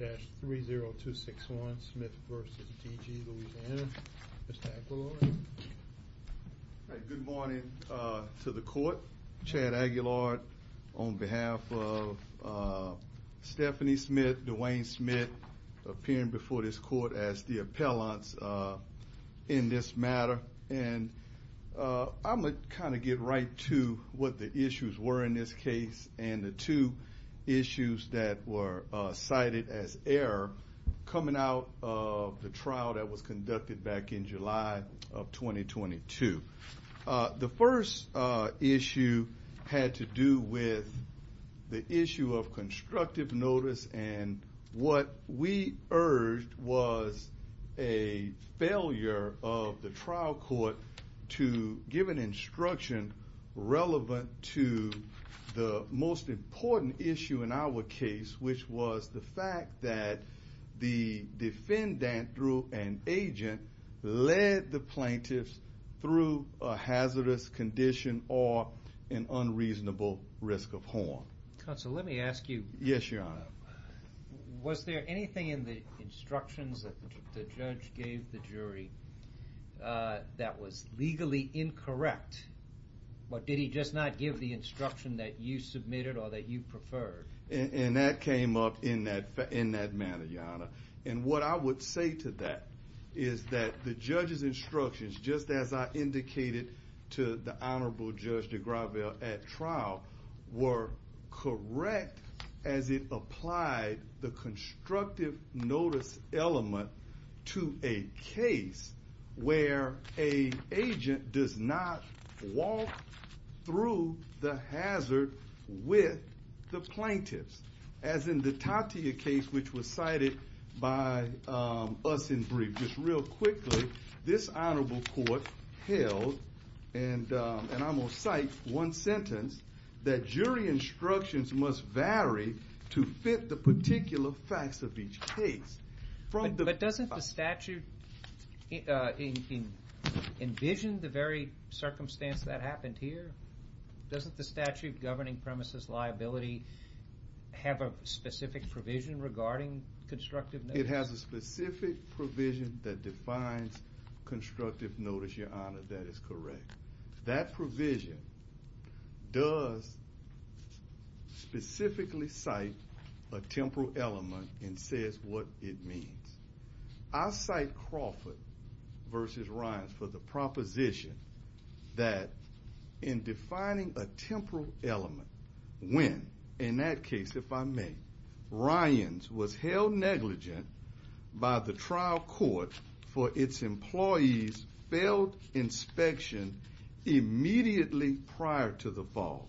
23-30261, Smith v. DG Louisiana. Mr. Aguilar. Good morning to the court. Chad Aguilar on behalf of Stephanie Smith, Dwayne Smith, appearing before this court as the appellants in this matter. And I'm going to kind of get right to what the issues were in this case and the two issues that were cited as error coming out of the trial that was conducted back in July of 2022. The first issue had to do with the issue of constructive notice and what we urged was a failure of the trial court to give an instruction relevant to the most important issue in our case, which was the fact that the defendant, through an agent, led the plaintiffs through a hazardous condition or an unreasonable risk of harm. Counsel, let me ask you. Yes, Your Honor. Was there anything in the instructions that the judge gave the jury that was legally incorrect? Or did he just not give the instruction that you submitted or that you preferred? And that came up in that manner, Your Honor. And what I would say to that is that the judge's instructions, just as I indicated to the Honorable Judge de Gravel at trial, were correct as it applied the constructive notice element to a case where an agent does not walk through the hazard with the plaintiffs. As in the Tatia case, which was cited by us in brief, just real quickly, this Honorable Court held, and I'm going to cite one sentence, that jury instructions must vary to fit the particular facts of each case. But doesn't the statute envision the very circumstance that happened here? Doesn't the statute governing premises liability have a specific provision regarding constructive notice? I cite Crawford v. Ryans for the proposition that in defining a temporal element, when, in that case if I may, Ryans was held negligent by the trial court for its employees' failed inspection immediately prior to the fall.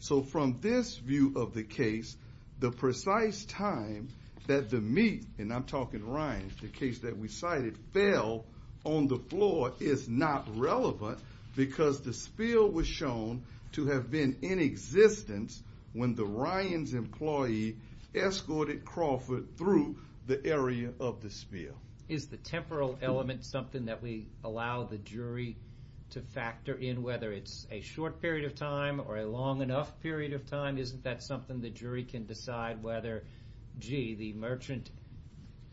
So from this view of the case, the precise time that the meet, and I'm talking Ryans, the case that we cited, fell on the floor is not relevant because the spill was shown to have been in existence when the Ryans employee escorted Crawford through the area of the spill. Is the temporal element something that we allow the jury to factor in, whether it's a short period of time or a long enough period of time? Isn't that something the jury can decide whether, gee, the merchant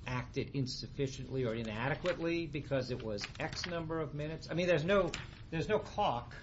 acted insufficiently or inadequately because it was X number of minutes? I mean, there's no clock.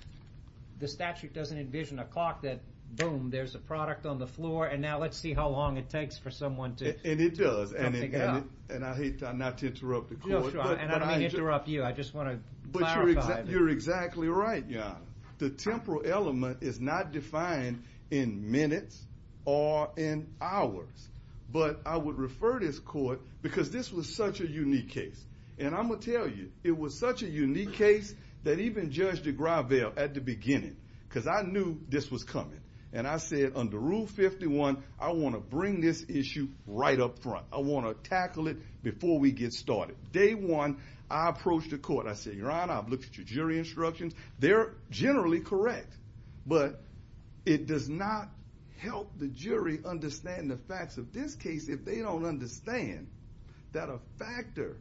The statute doesn't envision a clock that, boom, there's a product on the floor, and now let's see how long it takes for someone to pick it up. And it does, and I hate not to interrupt the court. And I don't mean to interrupt you. I just want to clarify. You're exactly right, Your Honor. The temporal element is not defined in minutes or in hours. But I would refer this court because this was such a unique case. And I'm going to tell you, it was such a unique case that even Judge DeGravelle at the beginning, because I knew this was coming, and I said under Rule 51, I want to bring this issue right up front. I want to tackle it before we get started. Day one, I approached the court. I said, Your Honor, I've looked at your jury instructions. They're generally correct. But it does not help the jury understand the facts of this case if they don't understand that a factor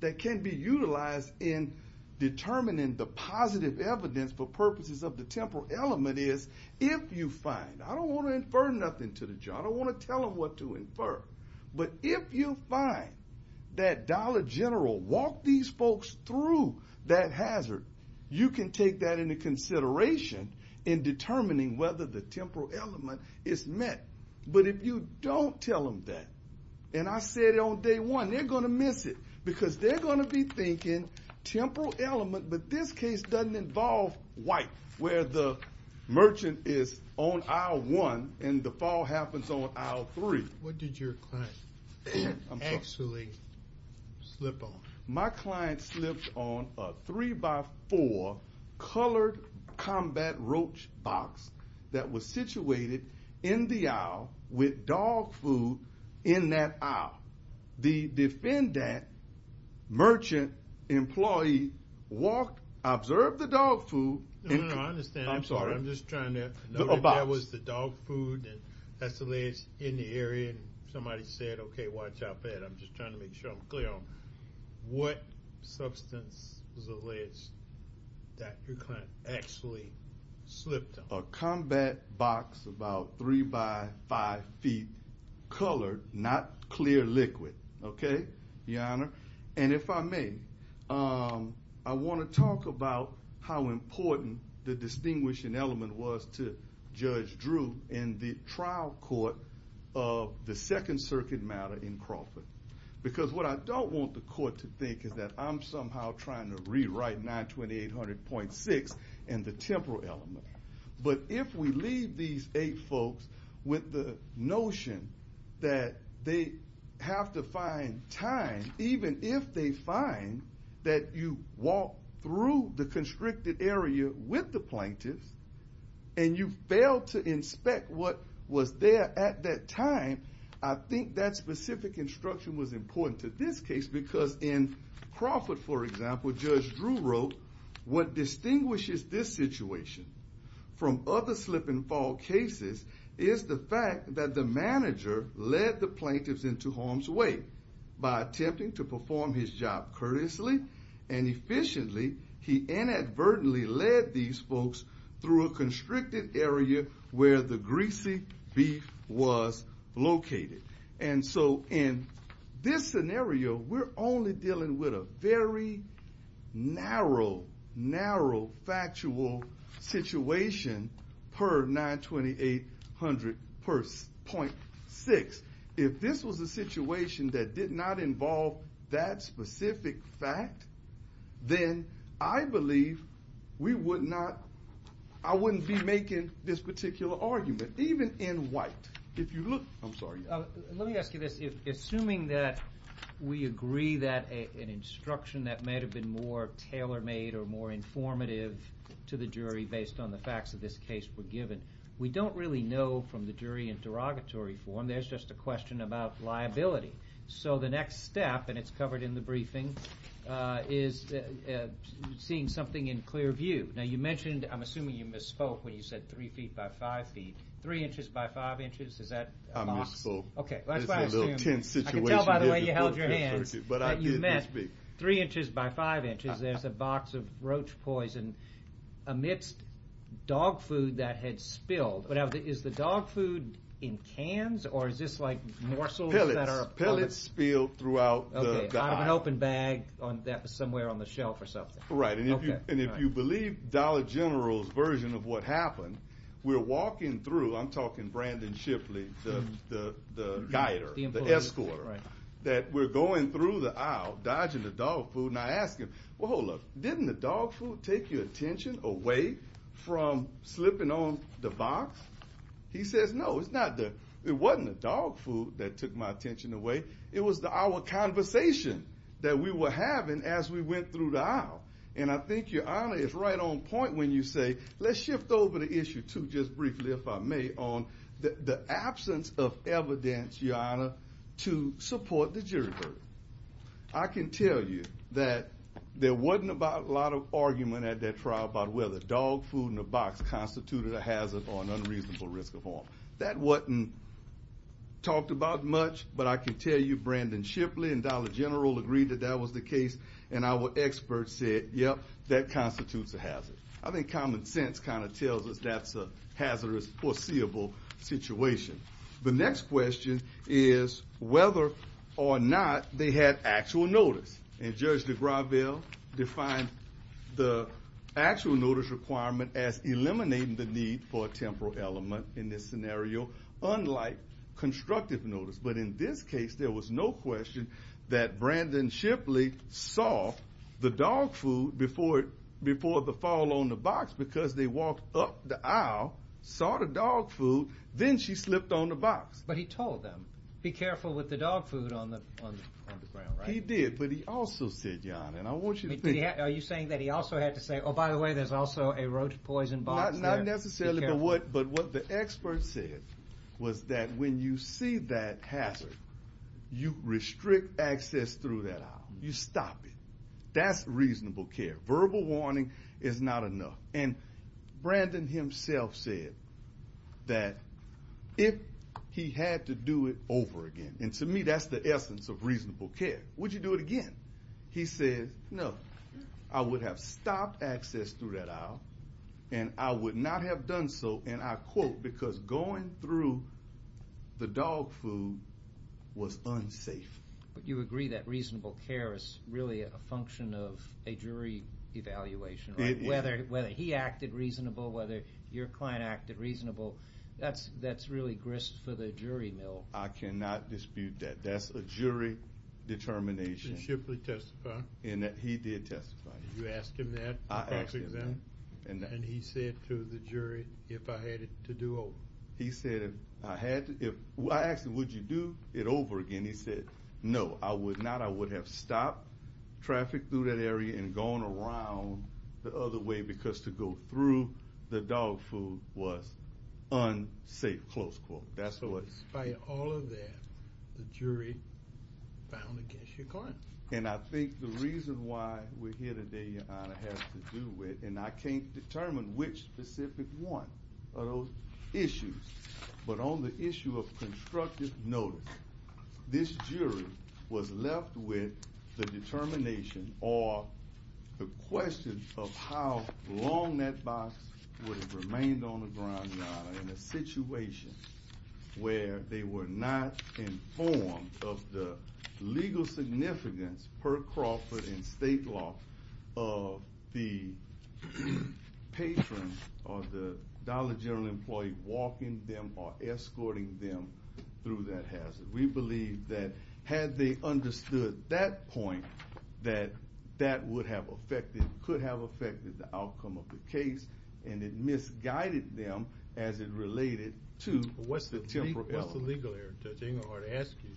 that can be utilized in determining the positive evidence for purposes of the temporal element is if you find. I don't want to infer nothing to the judge. I don't want to tell them what to infer. But if you find that Dollar General walked these folks through that hazard, you can take that into consideration in determining whether the temporal element is met. But if you don't tell them that, and I said it on day one, they're going to miss it. Because they're going to be thinking temporal element, but this case doesn't involve white, where the merchant is on aisle one and the fall happens on aisle three. What did your client actually slip on? with dog food in that aisle. The defendant, merchant, employee, walked, observed the dog food. No, no, no. I understand. I'm sorry. I'm just trying to know if that was the dog food. And that's the latest in the area. And somebody said, OK, watch out for that. I'm just trying to make sure I'm clear on what substance was alleged that your client actually slipped on. A combat box about three by five feet, colored, not clear liquid. OK, Your Honor. And if I may, I want to talk about how important the distinguishing element was to Judge Drew in the trial court of the Second Circuit matter in Crawford. Because what I don't want the court to think is that I'm somehow trying to rewrite 92800.6 and the temporal element. But if we leave these eight folks with the notion that they have to find time, even if they find that you walk through the constricted area with the plaintiffs and you fail to inspect what was there at that time, I think that specific instruction was important to this case. Because in Crawford, for example, Judge Drew wrote, what distinguishes this situation from other slip and fall cases is the fact that the manager led the plaintiffs into harm's way by attempting to perform his job courteously and efficiently. He inadvertently led these folks through a constricted area where the greasy beef was located. And so in this scenario, we're only dealing with a very narrow, narrow factual situation per 92800.6. If this was a situation that did not involve that specific fact, then I believe we would not, I wouldn't be making this particular argument, even in white. If you look, I'm sorry. Let me ask you this. Assuming that we agree that an instruction that may have been more tailor-made or more informative to the jury based on the facts of this case were given, we don't really know from the jury in derogatory form. There's just a question about liability. So the next step, and it's covered in the briefing, is seeing something in clear view. Now you mentioned, I'm assuming you misspoke when you said three feet by five feet. Three inches by five inches, is that a box? I can tell by the way you held your hands that you meant three inches by five inches. There's a box of roach poison amidst dog food that had spilled. Is the dog food in cans or is this like morsels? Pellets spilled throughout the aisle. Out of an open bag somewhere on the shelf or something. Right, and if you believe Dollar General's version of what happened, we're walking through, I'm talking Brandon Shipley, the guider, the escorter, that we're going through the aisle, dodging the dog food. Now I ask him, well hold up, didn't the dog food take your attention away from slipping on the box? He says, no, it wasn't the dog food that took my attention away, it was our conversation that we were having as we went through the aisle. And I think your honor is right on point when you say, let's shift over the issue too, just briefly if I may, on the absence of evidence, your honor, to support the jury verdict. I can tell you that there wasn't a lot of argument at that trial about whether dog food in a box constituted a hazard or an unreasonable risk of harm. That wasn't talked about much, but I can tell you Brandon Shipley and Dollar General agreed that that was the case and our experts said, yep, that constitutes a hazard. I think common sense kind of tells us that's a hazardous foreseeable situation. The next question is whether or not they had actual notice. And Judge DeGravelle defined the actual notice requirement as eliminating the need for a temporal element in this scenario, unlike constructive notice. But in this case, there was no question that Brandon Shipley saw the dog food before the fall on the box because they walked up the aisle, saw the dog food, then she slipped on the box. But he told them, be careful with the dog food on the ground, right? He did, but he also said, your honor, and I want you to think. Are you saying that he also had to say, oh, by the way, there's also a roach poison box there. Not necessarily, but what the experts said was that when you see that hazard, you restrict access through that aisle. You stop it. That's reasonable care. Verbal warning is not enough. And Brandon himself said that if he had to do it over again, and to me that's the essence of reasonable care, would you do it again? He said, no. I would have stopped access through that aisle, and I would not have done so, and I quote, because going through the dog food was unsafe. But you agree that reasonable care is really a function of a jury evaluation, right? It is. Whether he acted reasonable, whether your client acted reasonable, that's really grist for the jury mill. I cannot dispute that. That's a jury determination. And that he did testify. You asked him that? I asked him that. And he said to the jury, if I had to do it over. He said, if I had to, I asked him, would you do it over again? He said, no, I would not. I would have stopped traffic through that area and gone around the other way because to go through the dog food was unsafe, close quote. So despite all of that, the jury found against your client. And I think the reason why we're here today, Your Honor, has to do with, and I can't determine which specific one of those issues, but on the issue of constructive notice, this jury was left with the determination or the question of how long that box would have remained on the ground, Your Honor, in a situation where they were not informed of the legal significance per Crawford and state law of the patron or the Dollar General employee walking them or escorting them through that hazard. We believe that had they understood that point, that that would have affected, could have affected the outcome of the case, and it misguided them as it related to the temporal element. What's the legal error? Judge Engelhardt asked you,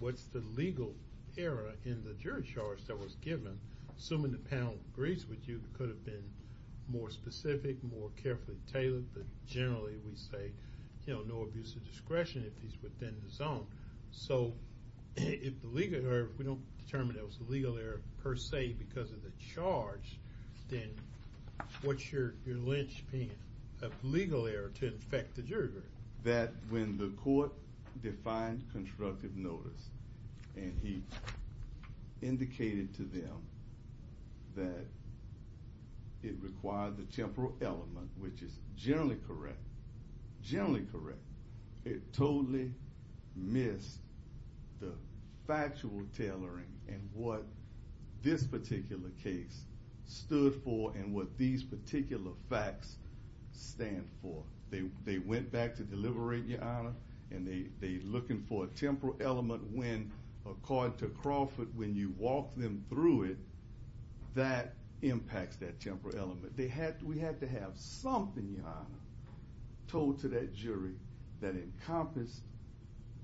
what's the legal error in the jury charge that was given? Assuming the panel agrees with you, it could have been more specific, more carefully tailored, but generally we say, you know, no abuse of discretion if he's within the zone. So if the legal error, if we don't determine there was a legal error per se because of the charge, then what's your linchpin of legal error to infect the jury jury? That when the court defined constructive notice and he indicated to them that it required the temporal element, which is generally correct, generally correct, it totally missed the factual tailoring and what this particular case stood for and what these particular facts stand for. They went back to deliberate, Your Honor, and they're looking for a temporal element when, according to Crawford, when you walk them through it, that impacts that temporal element. We had to have something, Your Honor, told to that jury that encompassed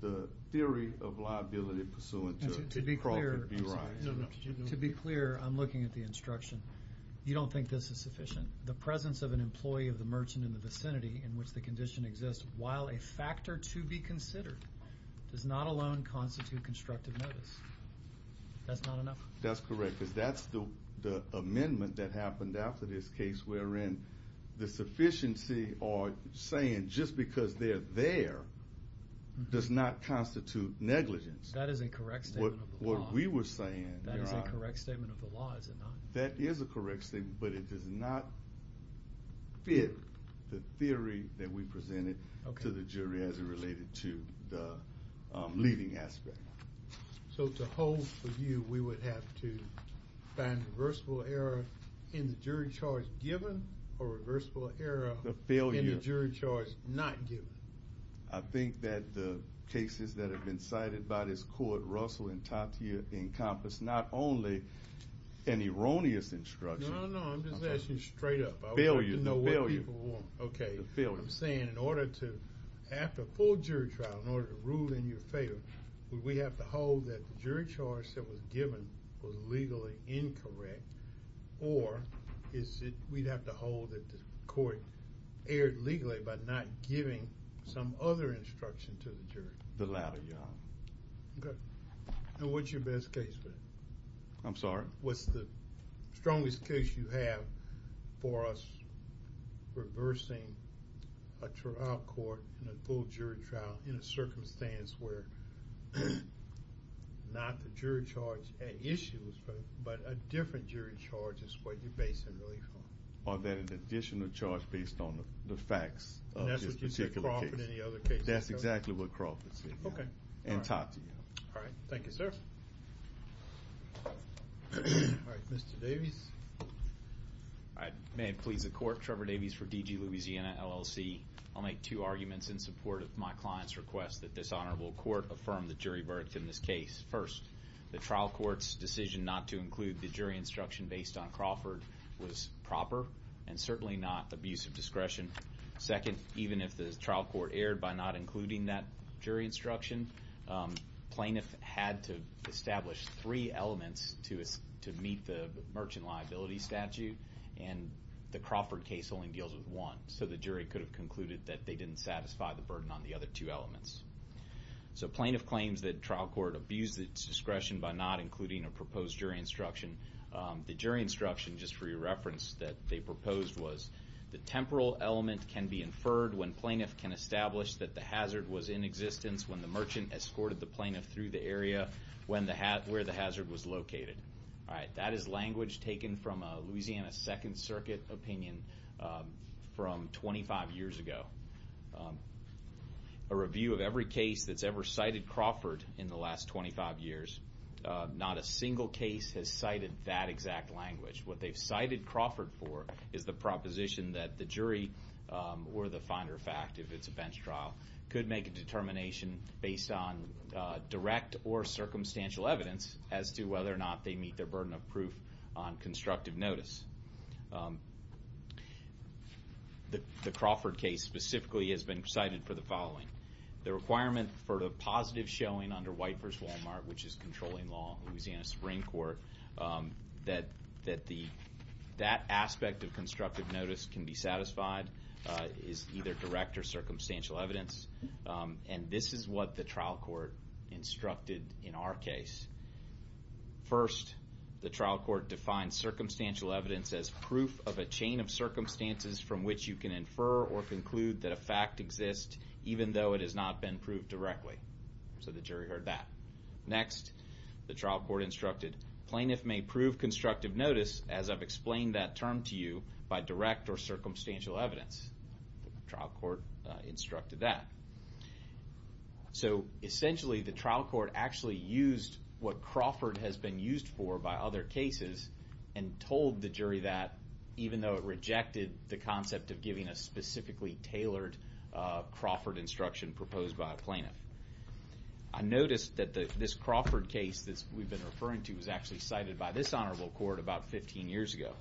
the theory of liability pursuant to Crawford's view. To be clear, I'm looking at the instruction. You don't think this is sufficient? The presence of an employee of the merchant in the vicinity in which the condition exists, while a factor to be considered, does not alone constitute constructive notice. That's not enough? That's correct because that's the amendment that happened after this case wherein the sufficiency or saying just because they're there does not constitute negligence. That is a correct statement of the law. What we were saying, Your Honor. That is a correct statement of the law, is it not? That is a correct statement, but it does not fit the theory that we presented to the jury as it related to the leading aspect. So to hold for you, we would have to find reversible error in the jury charge given or reversible error in the jury charge not given? I think that the cases that have been cited by this court, Russell and Tatia, encompass not only an erroneous instruction. No, no, I'm just asking straight up. Failure. I want to know what people want. Failure. What I'm saying, in order to, after a full jury trial, in order to rule in your favor, would we have to hold that the jury charge that was given was legally incorrect, or is it we'd have to hold that the court erred legally by not giving some other instruction to the jury? The latter, Your Honor. Okay. And what's your best case? I'm sorry? What's the strongest case you have for us reversing a trial court in a full jury trial in a circumstance where not the jury charge at issue, but a different jury charge is what you're basing relief on? Or then an additional charge based on the facts of this particular case. And that's what you said Crawford and the other cases? That's exactly what Crawford said, Your Honor. Okay. And Tatia. All right. Thank you, sir. All right. Mr. Davies. May it please the court. Trevor Davies for DG Louisiana LLC. I'll make two arguments in support of my client's request that this honorable court affirm the jury verdict in this case. First, the trial court's decision not to include the jury instruction based on Crawford was proper and certainly not abuse of discretion. Second, even if the trial court erred by not including that jury instruction, plaintiff had to establish three elements to meet the merchant liability statute, and the Crawford case only deals with one. So the jury could have concluded that they didn't satisfy the burden on the other two elements. So plaintiff claims that trial court abused its discretion by not including a proposed jury instruction. The jury instruction, just for your reference, that they proposed was the temporal element can be inferred when plaintiff can establish that the hazard was in existence when the merchant escorted the plaintiff through the area where the hazard was located. All right. That is language taken from a Louisiana Second Circuit opinion from 25 years ago. A review of every case that's ever cited Crawford in the last 25 years, not a single case has cited that exact language. What they've cited Crawford for is the proposition that the jury or the finder of fact, if it's a bench trial, could make a determination based on direct or circumstantial evidence as to whether or not they meet their burden of proof on constructive notice. The Crawford case specifically has been cited for the following. The requirement for the positive showing under White v. Walmart, which is controlling law in Louisiana Supreme Court, that that aspect of constructive notice can be satisfied is either direct or circumstantial evidence. And this is what the trial court instructed in our case. First, the trial court defined circumstantial evidence as proof of a chain of circumstances from which you can infer or conclude that a fact exists, even though it has not been proved directly. So the jury heard that. Next, the trial court instructed, plaintiff may prove constructive notice, as I've explained that term to you, by direct or circumstantial evidence. The trial court instructed that. So essentially, the trial court actually used what Crawford has been used for by other cases and told the jury that, even though it rejected the concept of giving a specifically tailored Crawford instruction proposed by a plaintiff. I noticed that this Crawford case that we've been referring to was actually cited by this honorable court about 15 years ago.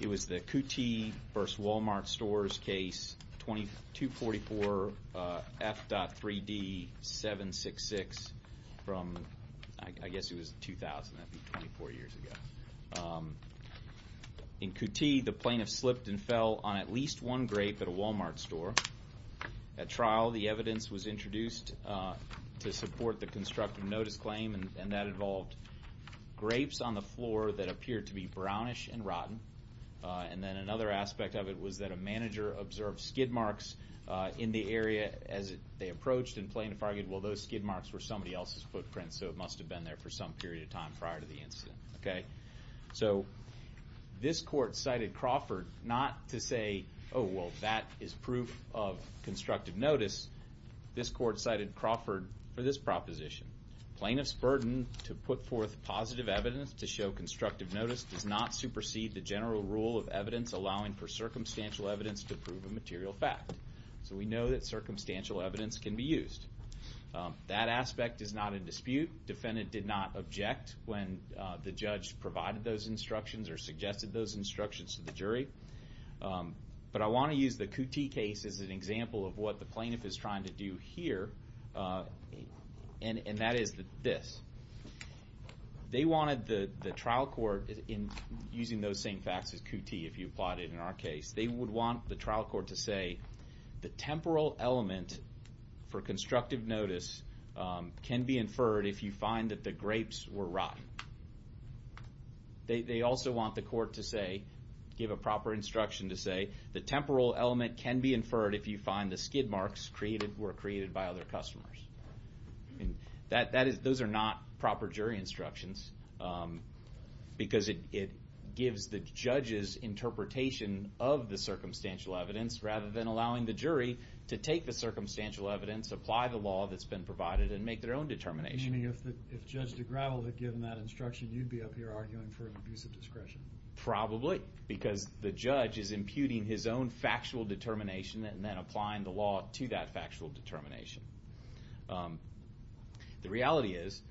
It was the Kuti v. Walmart Stores case, 2244 F.3D 766 from, I guess it was 2000, that would be 24 years ago. In Kuti, the plaintiff slipped and fell on at least one grape at a Walmart store. At trial, the evidence was introduced to support the constructive notice claim, and that involved grapes on the floor that appeared to be brownish and rotten. And then another aspect of it was that a manager observed skid marks in the area as they approached, and plaintiff argued, well, those skid marks were somebody else's footprint, so it must have been there for some period of time prior to the incident. So this court cited Crawford not to say, oh, well, that is proof of constructive notice. This court cited Crawford for this proposition. Plaintiff's burden to put forth positive evidence to show constructive notice does not supersede the general rule of evidence allowing for circumstantial evidence to prove a material fact. So we know that circumstantial evidence can be used. That aspect is not in dispute. Defendant did not object when the judge provided those instructions or suggested those instructions to the jury. But I want to use the Kuti case as an example of what the plaintiff is trying to do here, and that is this. They wanted the trial court, using those same facts as Kuti, if you plot it in our case, they would want the trial court to say the temporal element for constructive notice can be inferred if you find that the grapes were rotten. They also want the court to say, give a proper instruction to say, the temporal element can be inferred if you find the skid marks were created by other customers. Those are not proper jury instructions because it gives the judge's interpretation of the circumstantial evidence rather than allowing the jury to take the circumstantial evidence, apply the law that's been provided, and make their own determination. Meaning if Judge DeGravel had given that instruction, you'd be up here arguing for an abuse of discretion. Probably, because the judge is imputing his own factual determination and then applying the law to that factual determination. The reality is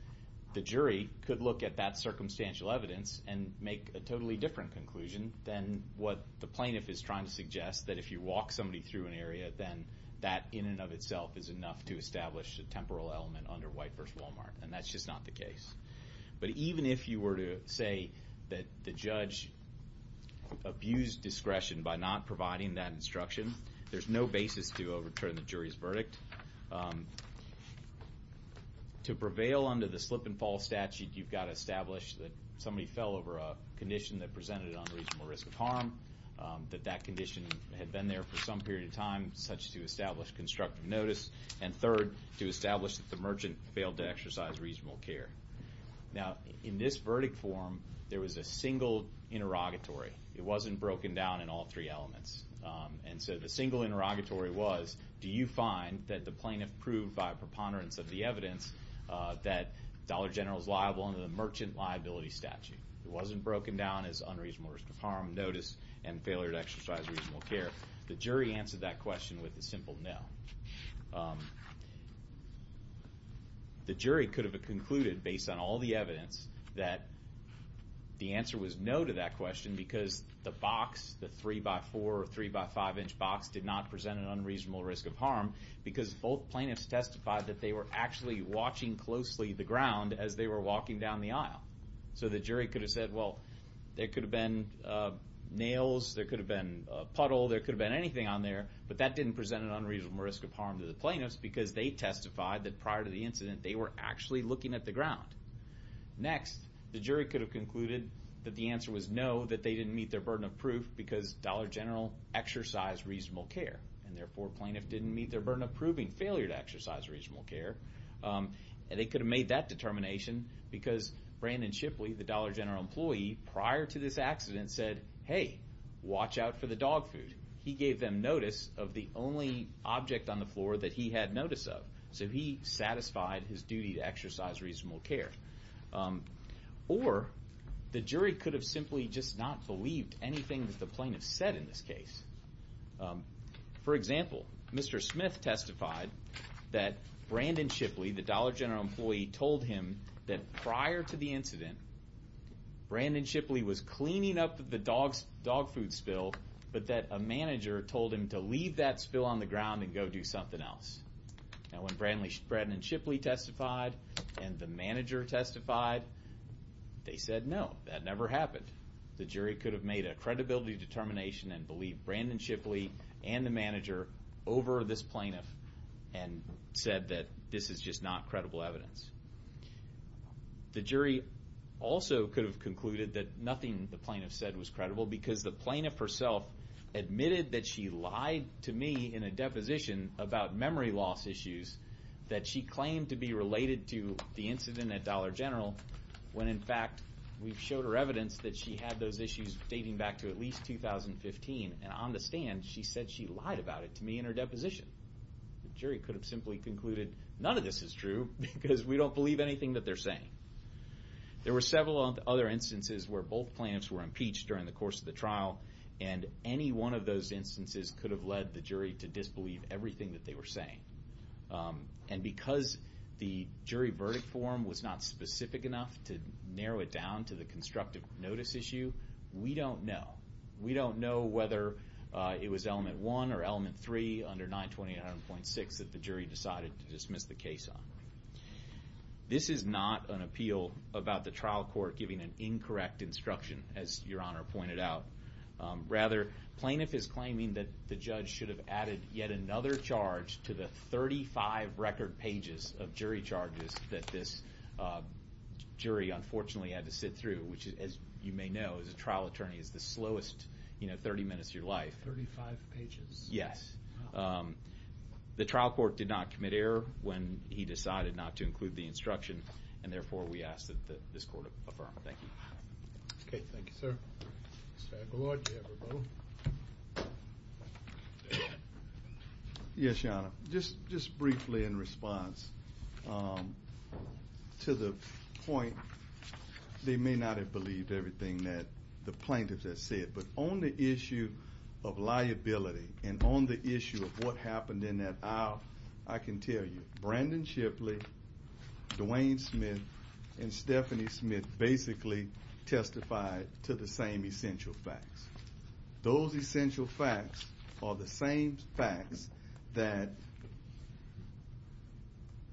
the jury could look at that circumstantial evidence and make a totally different conclusion than what the plaintiff is trying to suggest, that if you walk somebody through an area, then that in and of itself is enough to establish a temporal element under White v. Walmart. And that's just not the case. But even if you were to say that the judge abused discretion by not providing that instruction, there's no basis to overturn the jury's verdict. To prevail under the slip and fall statute, you've got to establish that somebody fell over a condition that presented an unreasonable risk of harm, that that condition had been there for some period of time, such to establish constructive notice, and third, to establish that the merchant failed to exercise reasonable care. Now, in this verdict form, there was a single interrogatory. It wasn't broken down in all three elements. And so the single interrogatory was, do you find that the plaintiff proved by preponderance of the evidence that Dollar General is liable under the merchant liability statute? It wasn't broken down as unreasonable risk of harm, notice, and failure to exercise reasonable care. The jury answered that question with a simple no. The jury could have concluded, based on all the evidence, that the answer was no to that question because the box, the three-by-four or three-by-five-inch box, did not present an unreasonable risk of harm because both plaintiffs testified that they were actually watching closely the ground as they were walking down the aisle. So the jury could have said, well, there could have been nails, there could have been a puddle, there could have been anything on there, but that didn't present an unreasonable risk of harm to the plaintiffs because they testified that prior to the incident they were actually looking at the ground. Next, the jury could have concluded that the answer was no, that they didn't meet their burden of proof because Dollar General exercised reasonable care, and therefore plaintiff didn't meet their burden of proving failure to exercise reasonable care. And they could have made that determination because Brandon Shipley, the Dollar General employee, prior to this accident said, hey, watch out for the dog food. He gave them notice of the only object on the floor that he had notice of, so he satisfied his duty to exercise reasonable care. Or the jury could have simply just not believed anything that the plaintiffs said in this case. For example, Mr. Smith testified that Brandon Shipley, the Dollar General employee, told him that prior to the incident Brandon Shipley was cleaning up the dog food spill, but that a manager told him to leave that spill on the ground and go do something else. Now when Brandon Shipley testified and the manager testified, they said no, that never happened. The jury could have made a credibility determination and believed Brandon Shipley and the manager over this plaintiff and said that this is just not credible evidence. The jury also could have concluded that nothing the plaintiff said was credible because the plaintiff herself admitted that she lied to me in a deposition about memory loss issues that she claimed to be related to the incident at Dollar General when in fact we've showed her evidence that she had those issues dating back to at least 2015. And on the stand she said she lied about it to me in her deposition. The jury could have simply concluded none of this is true because we don't believe anything that they're saying. There were several other instances where both plaintiffs were impeached during the course of the trial and any one of those instances could have led the jury to disbelieve everything that they were saying. And because the jury verdict form was not specific enough to narrow it down to the constructive notice issue, we don't know. We don't know whether it was element one or element three under 920.6 that the jury decided to dismiss the case on. This is not an appeal about the trial court giving an incorrect instruction as Your Honor pointed out. Rather plaintiff is claiming that the judge should have added yet another charge to the 35 record pages of jury charges that this jury unfortunately had to sit through which as you may know as a trial attorney is the slowest 30 minutes of your life. Thirty-five pages? Yes. The trial court did not commit error when he decided not to include the instruction and therefore we ask that this court affirm. Thank you. Okay, thank you sir. Mr. McElroy, do you have a vote? Yes, Your Honor. Just briefly in response to the point they may not have believed everything that the plaintiff has said but on the issue of liability and on the issue of what happened in that aisle, I can tell you Brandon Shipley, Dwayne Smith, and Stephanie Smith basically testified to the same essential facts. Those essential facts are the same facts that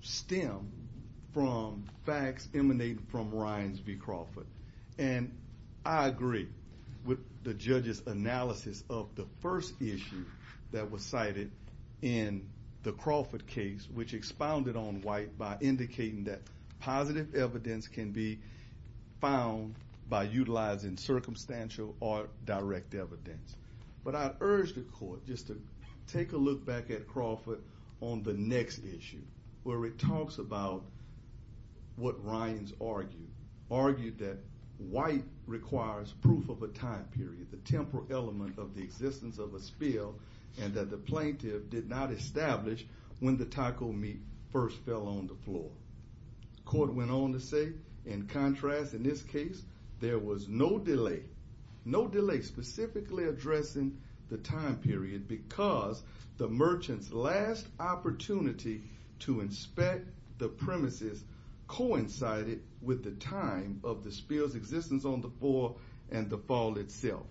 stem from facts emanating from Ryans v. Crawford. And I agree with the judge's analysis of the first issue that was cited in the Crawford case which expounded on white by indicating that positive evidence can be found by utilizing circumstantial or direct evidence. But I urge the court just to take a look back at Crawford on the next issue where it talks about what Ryans argued. Argued that white requires proof of a time period, the temporal element of the existence of a spill and that the plaintiff did not establish when the taco meat first fell on the floor. Court went on to say, in contrast in this case, there was no delay. No delay specifically addressing the time period because the merchant's last opportunity to inspect the premises coincided with the time of the spill's existence on the floor and the fall itself.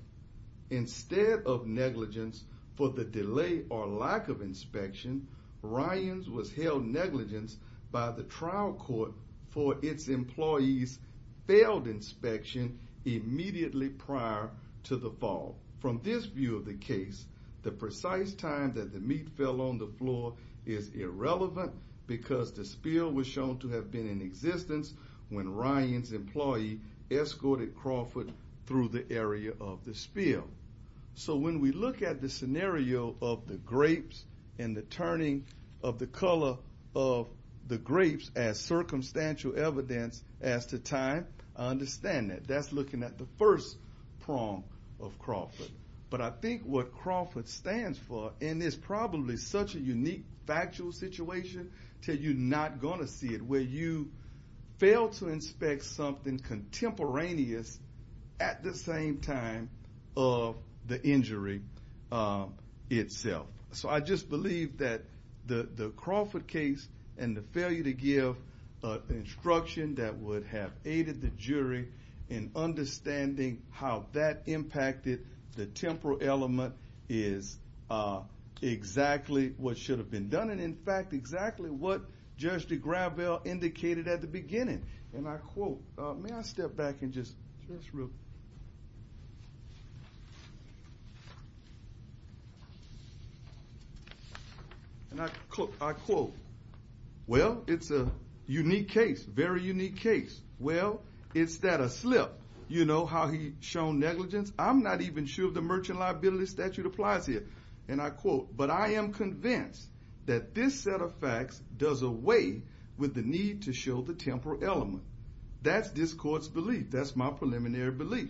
Instead of negligence for the delay or lack of inspection, Ryans was held negligent by the trial court for its employees' failed inspection immediately prior to the fall. From this view of the case, the precise time that the meat fell on the floor is irrelevant because the spill was shown to have been in existence when Ryans' employee escorted Crawford through the area of the spill. So when we look at the scenario of the grapes and the turning of the color of the grapes as circumstantial evidence as to time, I understand that. That's looking at the first prong of Crawford. But I think what Crawford stands for in this probably such a unique factual situation that you're not going to see it where you fail to inspect something contemporaneous at the same time of the injury itself. So I just believe that the Crawford case and the failure to give instruction that would have aided the jury in understanding how that impacted the temporal element is exactly what should have been done. And in fact, exactly what Judge DeGrabel indicated at the beginning. And I quote, may I step back and just real quick. And I quote, well, it's a unique case, very unique case. Well, it's that a slip, you know, how he shown negligence. I'm not even sure if the merchant liability statute applies here. And I quote, but I am convinced that this set of facts does away with the need to show the temporal element. That's this court's belief. That's my preliminary belief.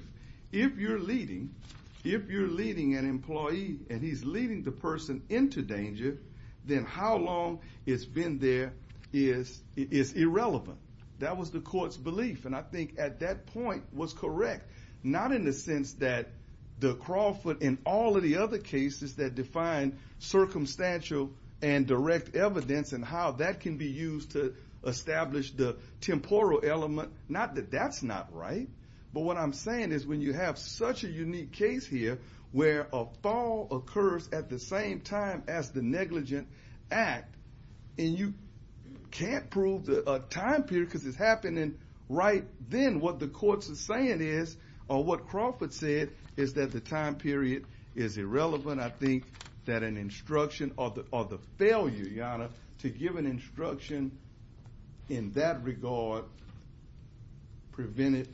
If you're leading, if you're leading an employee and he's leading the person into danger, then how long it's been there is irrelevant. That was the court's belief. And I think at that point was correct. Not in the sense that the Crawford and all of the other cases that define circumstantial and direct evidence and how that can be used to establish the temporal element. Not that that's not right. But what I'm saying is when you have such a unique case here where a fall occurs at the same time as the negligent act and you can't prove the time period because it's happening right then. And what the court's saying is, or what Crawford said, is that the time period is irrelevant. I think that an instruction or the failure, Your Honor, to give an instruction in that regard prevented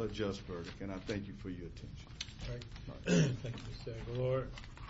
a just verdict. And I thank you for your attention. Thank you, Mr. Aguilar.